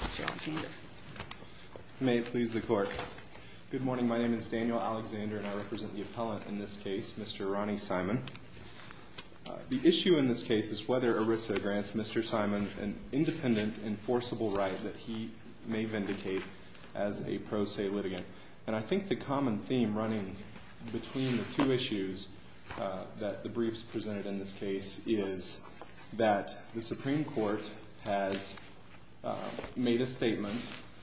Mr. Alexander. May it please the Court. Good morning. My name is Daniel Alexander and I represent the appellant in this case, Mr. Ronnie Simon. The issue in this case is whether ERISA grants Mr. Simon an independent enforceable right that he may vindicate as a pro se litigant. And I think the common theme running between the two issues that the briefs presented in this case is that the Supreme Court has made a statement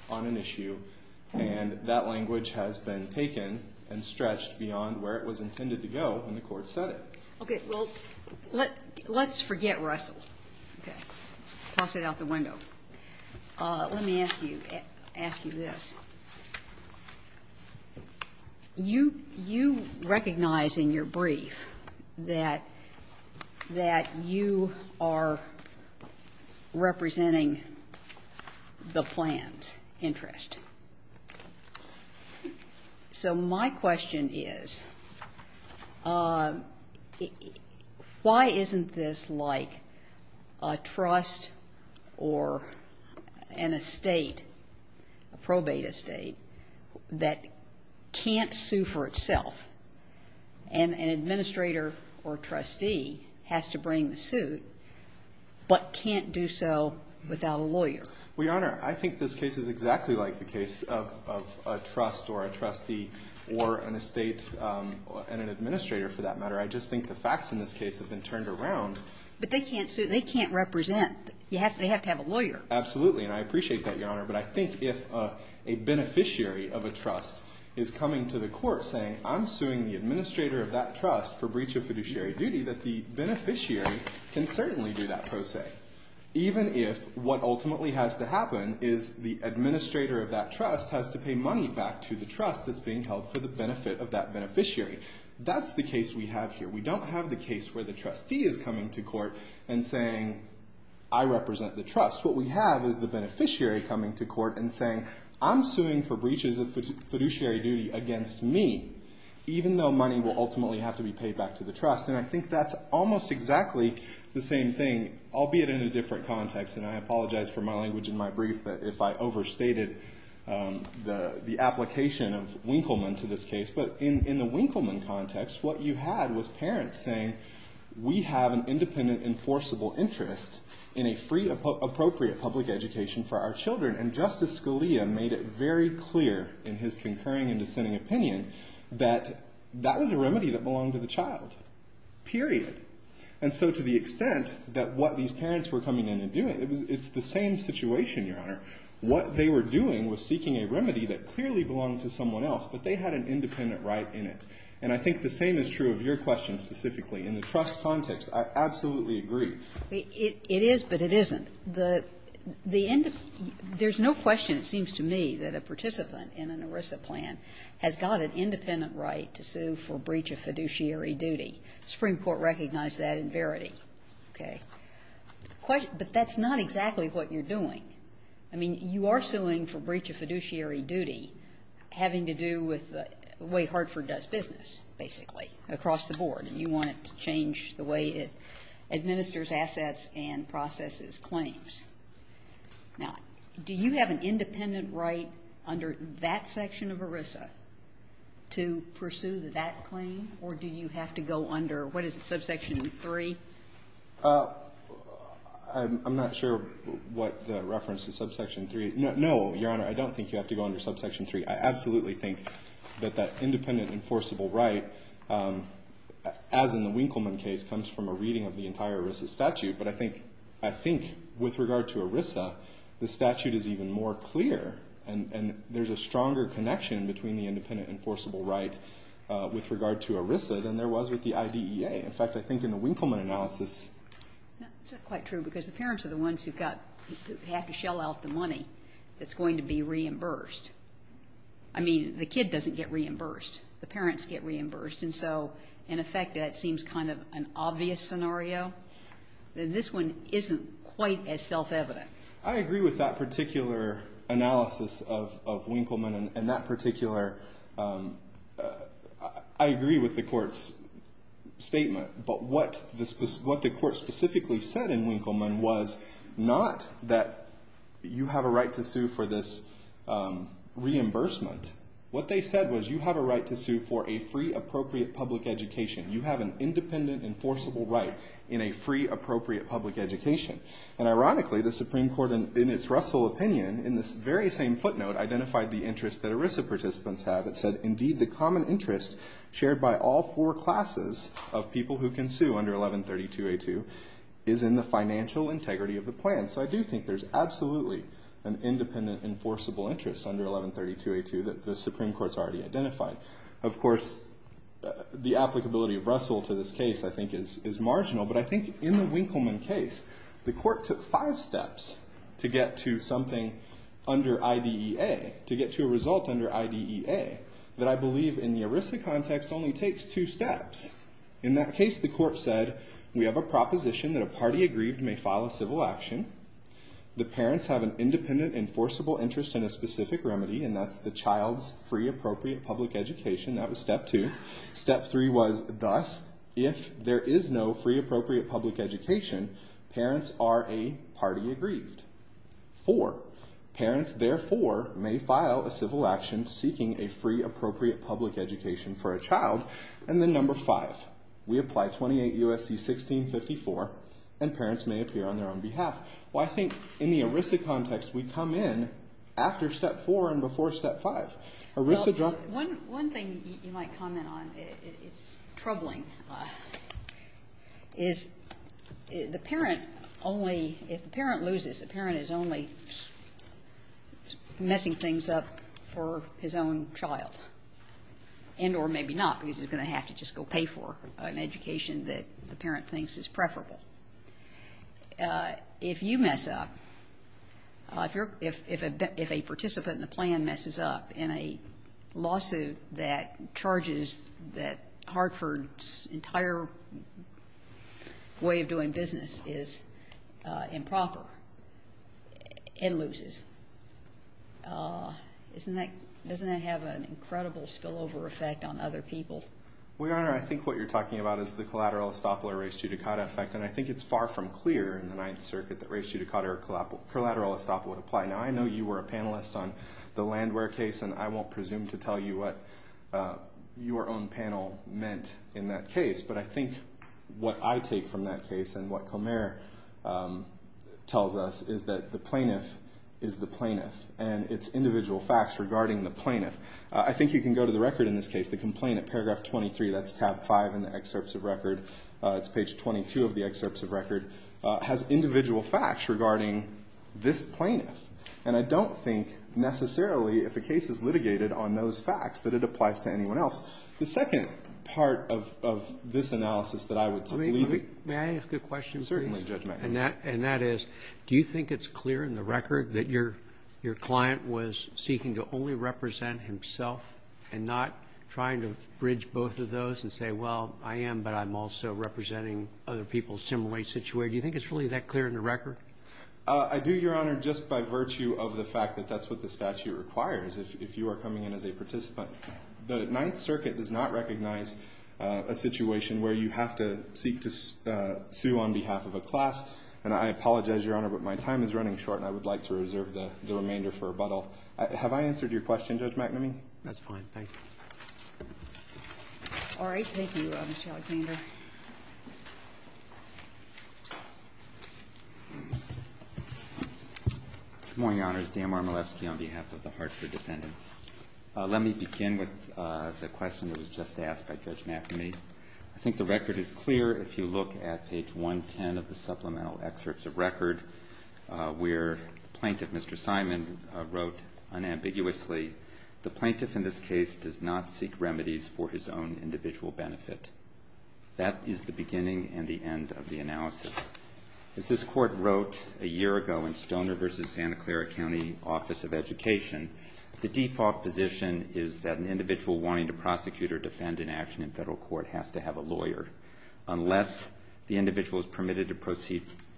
on an issue and that language has been taken and stretched beyond where it was intended to go when the Court said it. Okay. Well, let's forget Russell. Okay. Toss it out the window. Let me ask you this. You, you recognize in your brief that, that you are representing the plan's interest. So my question is, why isn't this like a trust or an estate, a probate estate that can't sue for itself, and an administrator or a trustee has to bring the suit, but can't do so without a lawyer? Well, Your Honor, I think this case is exactly like the case of, of a trust or a trustee or an estate and an administrator, for that matter. I just think the facts in this case have been turned around. But they can't sue. They can't represent. You have to, they have to have a lawyer. Absolutely. And I appreciate that, Your Honor. But I think if a beneficiary of a trust is coming to the court saying, I'm suing the administrator of that trust for breach of fiduciary duty, that the beneficiary can certainly do that per se. Even if what ultimately has to happen is the administrator of that trust has to pay money back to the trust that's being held for the benefit of that beneficiary. That's the case we have here. We don't have the case where the trustee is coming to court and saying, I represent the trust. What we have is the beneficiary coming to court and saying, I'm suing for breaches of fiduciary duty against me, even though money will ultimately have to be paid back to the trust. And I think that's almost exactly the same thing, albeit in a different context. And I apologize for my language in my brief that if I overstated the application of Winkleman to this case. But in the Winkleman context, what you had was parents saying, we have an independent enforceable interest in a free, appropriate public education for our children. And Justice Scalia made it very clear in his concurring and dissenting opinion that that was a remedy that belonged to the child, period. And so to the extent that what these parents were coming in and doing, it's the same situation, Your Honor. What they were doing was seeking a remedy that clearly belonged to someone else, but they had an independent right in it. And I think the same is true of your question specifically. In the trust context, I absolutely agree. It is, but it isn't. There's no question, it seems to me, that a participant in an ERISA plan has got an independent right to sue for breach of fiduciary duty. The Supreme Court recognized that in Verity. Okay. But that's not exactly what you're doing. I mean, you are suing for breach of fiduciary duty having to do with the way Hartford does business, basically, across the board. And you want it to change the way it administers assets and processes claims. Now, do you have an independent right under that section of ERISA to pursue that claim, or do you have to go under, what is it, subsection 3? I'm not sure what the reference to subsection 3. No, Your Honor, I don't think you have to go under subsection 3. I absolutely think that that independent enforceable right, as in the Winkleman case, comes from a reading of the entire ERISA statute. But I think with regard to ERISA, the statute is even more clear. And there's a stronger connection between the independent enforceable right with regard to ERISA than there was with the IDEA. In fact, I think in the Winkleman analysis ---- That's not quite true because the parents are the ones who have to shell out the reimbursement. I mean, the kid doesn't get reimbursed. The parents get reimbursed. And so, in effect, that seems kind of an obvious scenario. This one isn't quite as self-evident. I agree with that particular analysis of Winkleman and that particular ---- I agree with the Court's statement. But what the Court specifically said in Winkleman was not that you have a right to sue for this reimbursement. What they said was you have a right to sue for a free appropriate public education. You have an independent enforceable right in a free appropriate public education. And ironically, the Supreme Court, in its Russell opinion, in this very same footnote, identified the interest that ERISA participants have. It said, indeed, the common interest shared by all four classes of people who can sue under 1132A2 is in the financial integrity of the plan. So I do think there's absolutely an independent enforceable interest under 1132A2 that the Supreme Court's already identified. Of course, the applicability of Russell to this case, I think, is marginal. But I think in the Winkleman case, the Court took five steps to get to something under IDEA, to get to a result under IDEA that I believe, in the ERISA context, only takes two steps. In that case, the Court said, we have a proposition that a party aggrieved may file a civil action. The parents have an independent enforceable interest in a specific remedy. And that's the child's free appropriate public education. That was step two. Step three was, thus, if there is no free appropriate public education, parents are a party aggrieved. Four. Parents, therefore, may file a civil action seeking a free appropriate public education for a child. And then number five. We apply 28 U.S.C. 1654, and parents may appear on their own behalf. Well, I think in the ERISA context, we come in after step four and before step five. ERISA dropped. One thing you might comment on, it's troubling, is the parent only, if the parent loses, the parent is only messing things up for his own child. And or maybe not, because he's going to have to just go pay for an education that the parent thinks is preferable. If you mess up, if a participant in the plan messes up in a lawsuit that charges that Hartford's entire way of doing business is improper, it loses. Doesn't that have an incredible spillover effect on other people? Well, Your Honor, I think what you're talking about is the collateral estoppel or res judicata effect. And I think it's far from clear in the Ninth Circuit that res judicata or collateral estoppel would apply. Now, I know you were a panelist on the Landwehr case, and I won't presume to tell you what your own panel meant in that case, but I think what I take from that case and what Comair tells us is that the plaintiff is the plaintiff, and it's individual facts regarding the plaintiff. I think you can go to the record in this case, the complaint at paragraph 23, that's tab 5 in the excerpts of record, it's page 22 of the excerpts of record, has individual facts regarding this plaintiff. And I don't think necessarily if a case is litigated on those facts that it applies to anyone else. The second part of this analysis that I would leave you with. I mean, may I ask a question, please? Certainly, Judge McNamara. And that is, do you think it's clear in the record that your client was seeking to only represent himself and not trying to bridge both of those and say, well, I am, but I'm also representing other people similarly situated? Do you think it's really that clear in the record? I do, Your Honor, just by virtue of the fact that that's what the statute requires if you are coming in as a participant. The Ninth Circuit does not recognize a situation where you have to seek to sue on behalf of a class. And I apologize, Your Honor, but my time is running short and I would like to reserve the remainder for rebuttal. Have I answered your question, Judge McNamara? That's fine. Thank you. All right. Thank you, Mr. Alexander. Good morning, Your Honors. Dan Marmolevsky on behalf of the Hartford defendants. Let me begin with the question that was just asked by Judge McNamara. I think the record is clear if you look at page 110 of the supplemental excerpts of record where the plaintiff, Mr. Simon, wrote unambiguously, the plaintiff in this case does not seek remedies for his own individual benefit. That is the beginning and the end of the analysis. As this Court wrote a year ago in Stoner v. Santa Clara County Office of Education, the default position is that an individual wanting to prosecute or defend an action in Federal court has to have a lawyer unless the individual is permitted to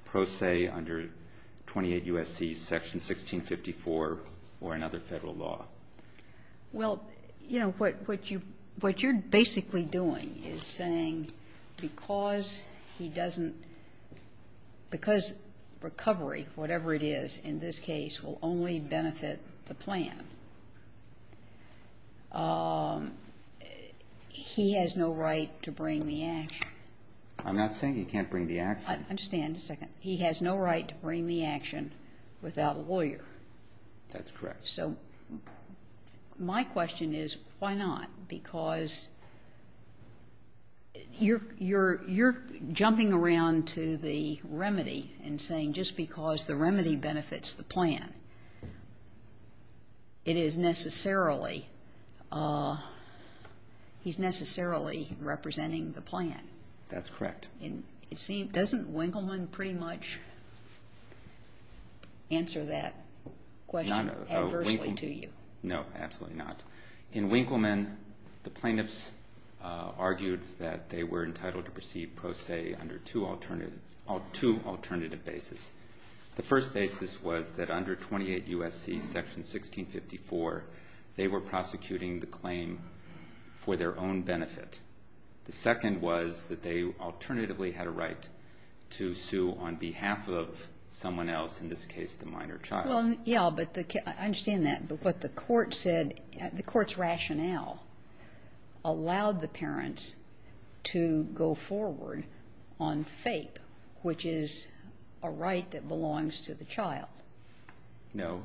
pro se under 28 U.S.C. Section 1654 or another Federal law. Well, you know, what you're basically doing is saying because he doesn't – because this recovery, whatever it is in this case, will only benefit the plan, he has no right to bring the action. I'm not saying he can't bring the action. I understand. Just a second. He has no right to bring the action without a lawyer. That's correct. So my question is why not? Because you're jumping around to the remedy and saying just because the remedy benefits the plan, it is necessarily – he's necessarily representing the plan. That's correct. Doesn't Winkleman pretty much answer that question adversely to you? No, absolutely not. In Winkleman, the plaintiffs argued that they were entitled to proceed pro se under two alternative basis. The first basis was that under 28 U.S.C. Section 1654, they were prosecuting the claim for their own benefit. The second was that they alternatively had a right to sue on behalf of someone else, in this case the minor child. Yeah, I understand that. But what the court said, the court's rationale allowed the parents to go forward on FAPE, which is a right that belongs to the child. No.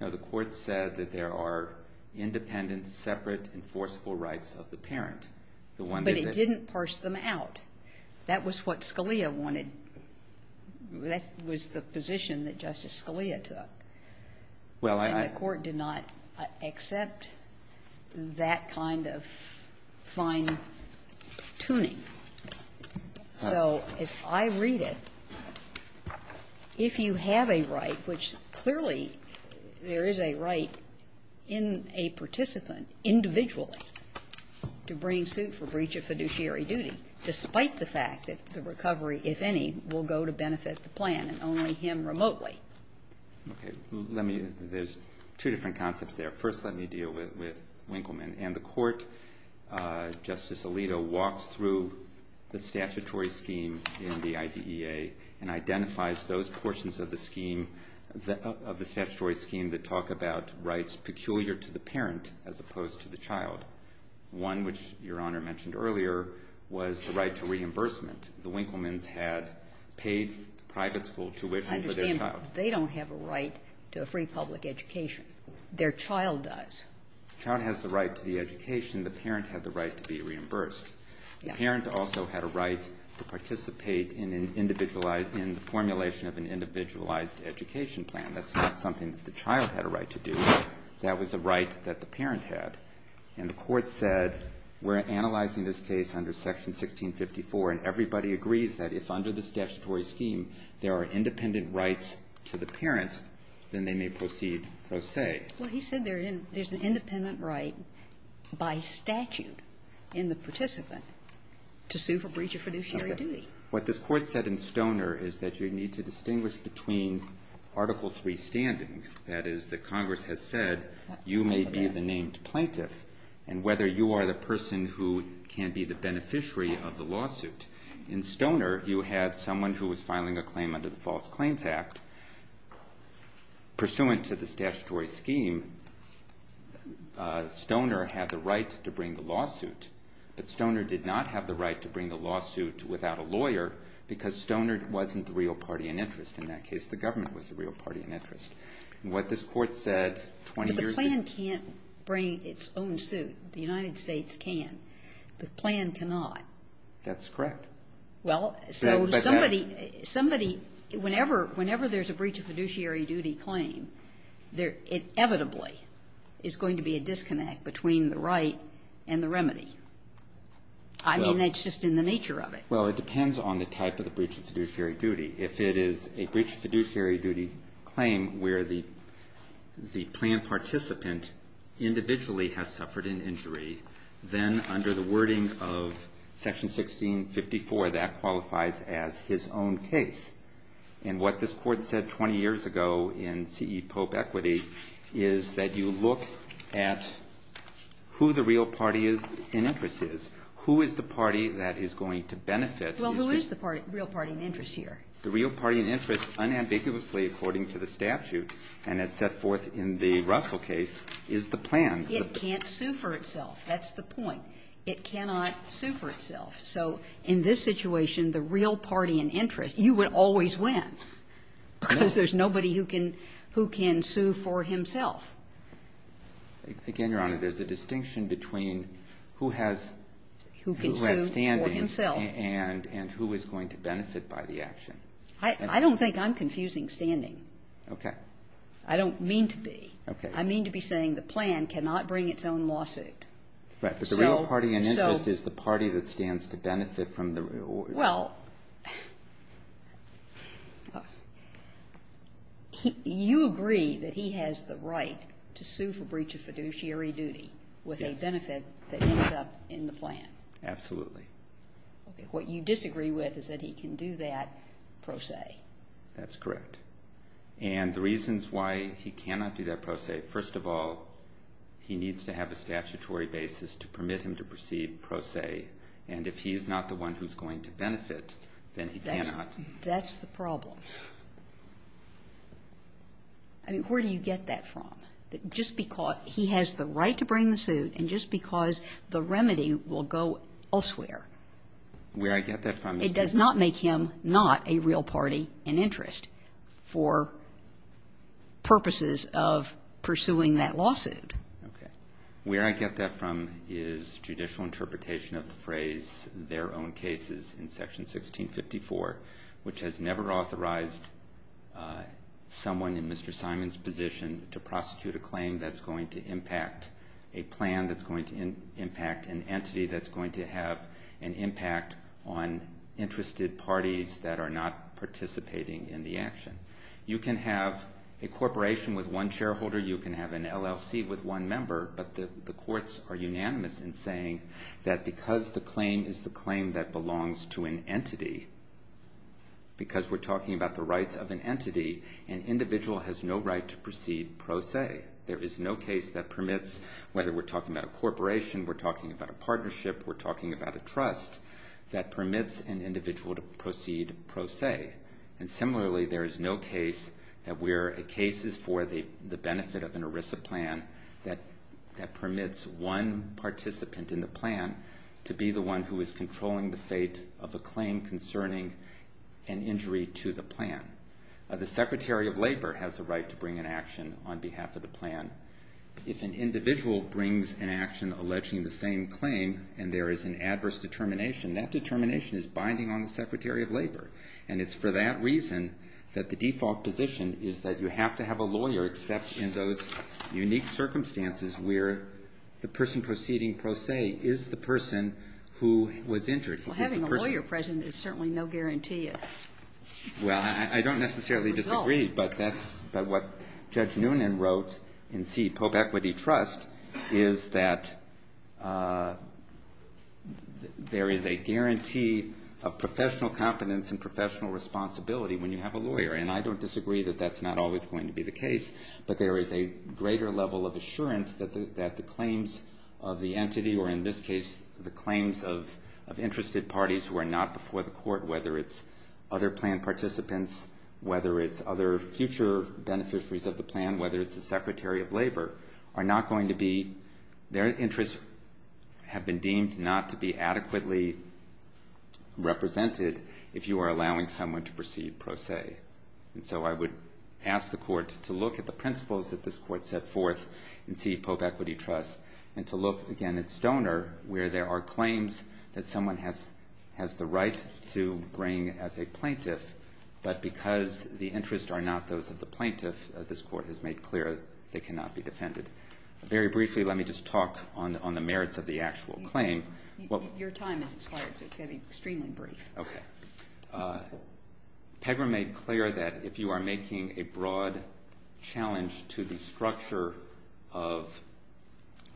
No, the court said that there are independent, separate, enforceable rights of the parent. But it didn't parse them out. That was what Scalia wanted. That was the position that Justice Scalia took. And the court did not accept that kind of fine-tuning. So as I read it, if you have a right, which clearly there is a right in a participant individually to bring suit for breach of fiduciary duty, despite the fact that the recovery, if any, will go to benefit the plan and only him remotely. Okay. Let me – there's two different concepts there. First, let me deal with Winkleman. And the court, Justice Alito, walks through the statutory scheme in the IDEA and identifies those portions of the scheme, of the statutory scheme that talk about peculiar to the parent as opposed to the child. One, which Your Honor mentioned earlier, was the right to reimbursement. The Winklemans had paid private school tuition for their child. I understand. They don't have a right to a free public education. Their child does. The child has the right to the education. The parent had the right to be reimbursed. The parent also had a right to participate in an individualized – in the formulation of an individualized education plan. That's not something that the child had a right to do. That was a right that the parent had. And the court said we're analyzing this case under Section 1654, and everybody agrees that if under the statutory scheme there are independent rights to the parent, then they may proceed pro se. Well, he said there's an independent right by statute in the participant to sue for breach of fiduciary duty. What this court said in Stoner is that you need to distinguish between Article 3 standing, that is, that Congress has said you may be the named plaintiff, and whether you are the person who can be the beneficiary of the lawsuit. In Stoner, you had someone who was filing a claim under the False Claims Act. Pursuant to the statutory scheme, Stoner had the right to bring the lawsuit, but Stoner did not have the right to bring the lawsuit without a lawyer because Stoner wasn't the real party in interest. In that case, the government was the real party in interest. What this court said 20 years ago – But the plan can't bring its own suit. The United States can. The plan cannot. That's correct. Well, so somebody – whenever there's a breach of fiduciary duty claim, there inevitably is going to be a disconnect between the right and the remedy. I mean, that's just in the nature of it. Well, it depends on the type of the breach of fiduciary duty. If it is a breach of fiduciary duty claim where the planned participant individually has suffered an injury, then under the wording of Section 1654, that qualifies as his own case. And what this Court said 20 years ago in C.E. Pope Equity is that you look at who the real party in interest is. Who is the party that is going to benefit? Well, who is the real party in interest here? The real party in interest, unambiguously according to the statute and as set forth in the Russell case, is the plan. It can't sue for itself. That's the point. It cannot sue for itself. So in this situation, the real party in interest, you would always win because there's nobody who can sue for himself. Again, Your Honor, there's a distinction between who has standing and who is going to benefit by the action. I don't think I'm confusing standing. Okay. I don't mean to be. Okay. I mean to be saying the plan cannot bring its own lawsuit. Right. But the real party in interest is the party that stands to benefit from the reward. Well, you agree that he has the right to sue for breach of fiduciary duty with a benefit that ended up in the plan. Absolutely. Okay. What you disagree with is that he can do that pro se. That's correct. And the reasons why he cannot do that pro se, first of all, he needs to have a statute on a statutory basis to permit him to proceed pro se, and if he's not the one who's going to benefit, then he cannot. That's the problem. I mean, where do you get that from? That just because he has the right to bring the suit and just because the remedy will go elsewhere. Where I get that from is he's not. It does not make him not a real party in interest for purposes of pursuing that lawsuit. Okay. Where I get that from is judicial interpretation of the phrase, their own cases in Section 1654, which has never authorized someone in Mr. Simon's position to prosecute a claim that's going to impact a plan that's going to impact an entity that's going to have an impact on interested parties that are not participating in the action. You can have a corporation with one shareholder. You can have an LLC with one member. But the courts are unanimous in saying that because the claim is the claim that belongs to an entity, because we're talking about the rights of an entity, an individual has no right to proceed pro se. There is no case that permits, whether we're talking about a corporation, we're talking about a partnership, we're talking about a trust, that permits an individual to proceed pro se. And similarly, there is no case that we're cases for the benefit of an ERISA plan that permits one participant in the plan to be the one who is controlling the fate of a claim concerning an injury to the plan. The Secretary of Labor has the right to bring an action on behalf of the plan. If an individual brings an action alleging the same claim and there is an adverse determination, that determination is binding on the Secretary of Labor. And it's for that reason that the default position is that you have to have a lawyer, except in those unique circumstances where the person proceeding pro se is the person who was injured. Having a lawyer present is certainly no guarantee of the result. Well, I don't necessarily disagree, but that's what Judge Noonan wrote in C, Pope Equity Trust, is that there is a guarantee of professional competence and professional responsibility when you have a lawyer. And I don't disagree that that's not always going to be the case, but there is a greater level of assurance that the claims of the entity, or in this case the claims of interested parties who are not before the court, whether it's other plan participants, whether it's other future beneficiaries of the plan, whether it's the Secretary of Labor, are not going to be, their interests have been deemed not to be adequately represented if you are allowing someone to proceed pro se. And so I would ask the court to look at the principles that this court set forth in C, Pope Equity Trust, and to look again at Stoner, where there are claims that someone has the right to bring as a plaintiff, but because the interests are not those of the plaintiff, this court has made clear they cannot be defended. Very briefly, let me just talk on the merits of the actual claim. Your time has expired, so it's going to be extremely brief. Okay. Pegra made clear that if you are making a broad challenge to the structure of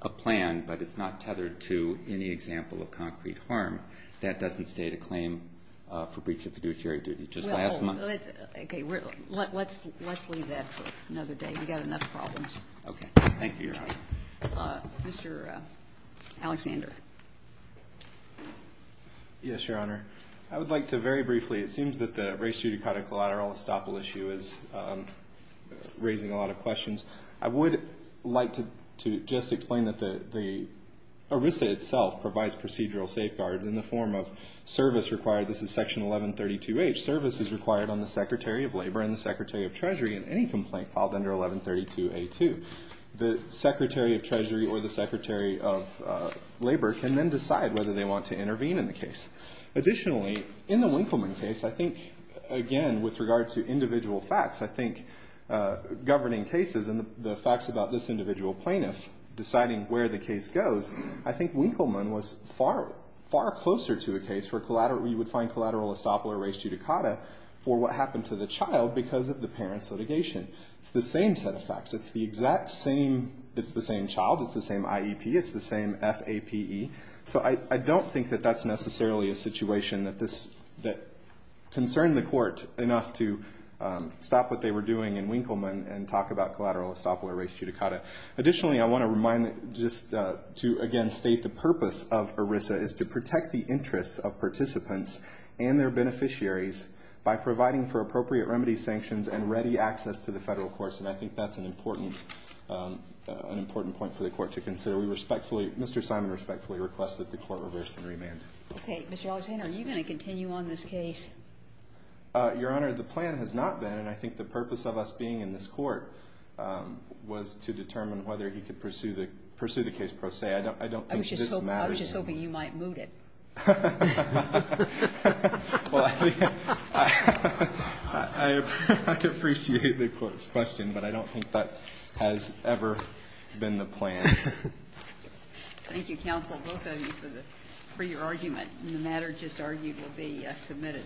a plan but it's not tethered to any example of concrete harm, that doesn't state a claim for breach of fiduciary duty. Just last month. Okay. Let's leave that for another day. We've got enough problems. Okay. Thank you, Your Honor. Mr. Alexander. Yes, Your Honor. I would like to very briefly, it seems that the race-judicata collateral estoppel issue is raising a lot of questions. I would like to just explain that the ERISA itself provides procedural safeguards in the form of service required. This is Section 1132H. Service is required on the Secretary of Labor and the Secretary of Treasury in any complaint filed under 1132A2. The Secretary of Treasury or the Secretary of Labor can then decide whether they want to intervene in the case. Additionally, in the Winkleman case, I think, again, with regard to individual facts, I think governing cases and the facts about this individual plaintiff deciding where the case goes, I think Winkleman was far closer to a case where you would find collateral estoppel or race-judicata for what happened to the child because of the parent's litigation. It's the same set of facts. It's the exact same child. It's the same IEP. It's the same FAPE. So I don't think that that's necessarily a situation that concerned the court enough to stop what they were doing in Winkleman and talk about collateral estoppel or race-judicata. Additionally, I want to remind just to, again, state the purpose of ERISA is to protect the interests of participants and their beneficiaries by providing for appropriate remedy sanctions and ready access to the federal courts. And I think that's an important point for the court to consider. We respectfully, Mr. Simon respectfully request that the court reverse and remand. Okay. Mr. Alexander, are you going to continue on this case? Your Honor, the plan has not been, and I think the purpose of us being in this court, was to determine whether he could pursue the case pro se. I don't think this matters. I was just hoping you might moot it. I appreciate the question, but I don't think that has ever been the plan. Thank you, counsel, both of you, for your argument. And the matter just argued will be submitted.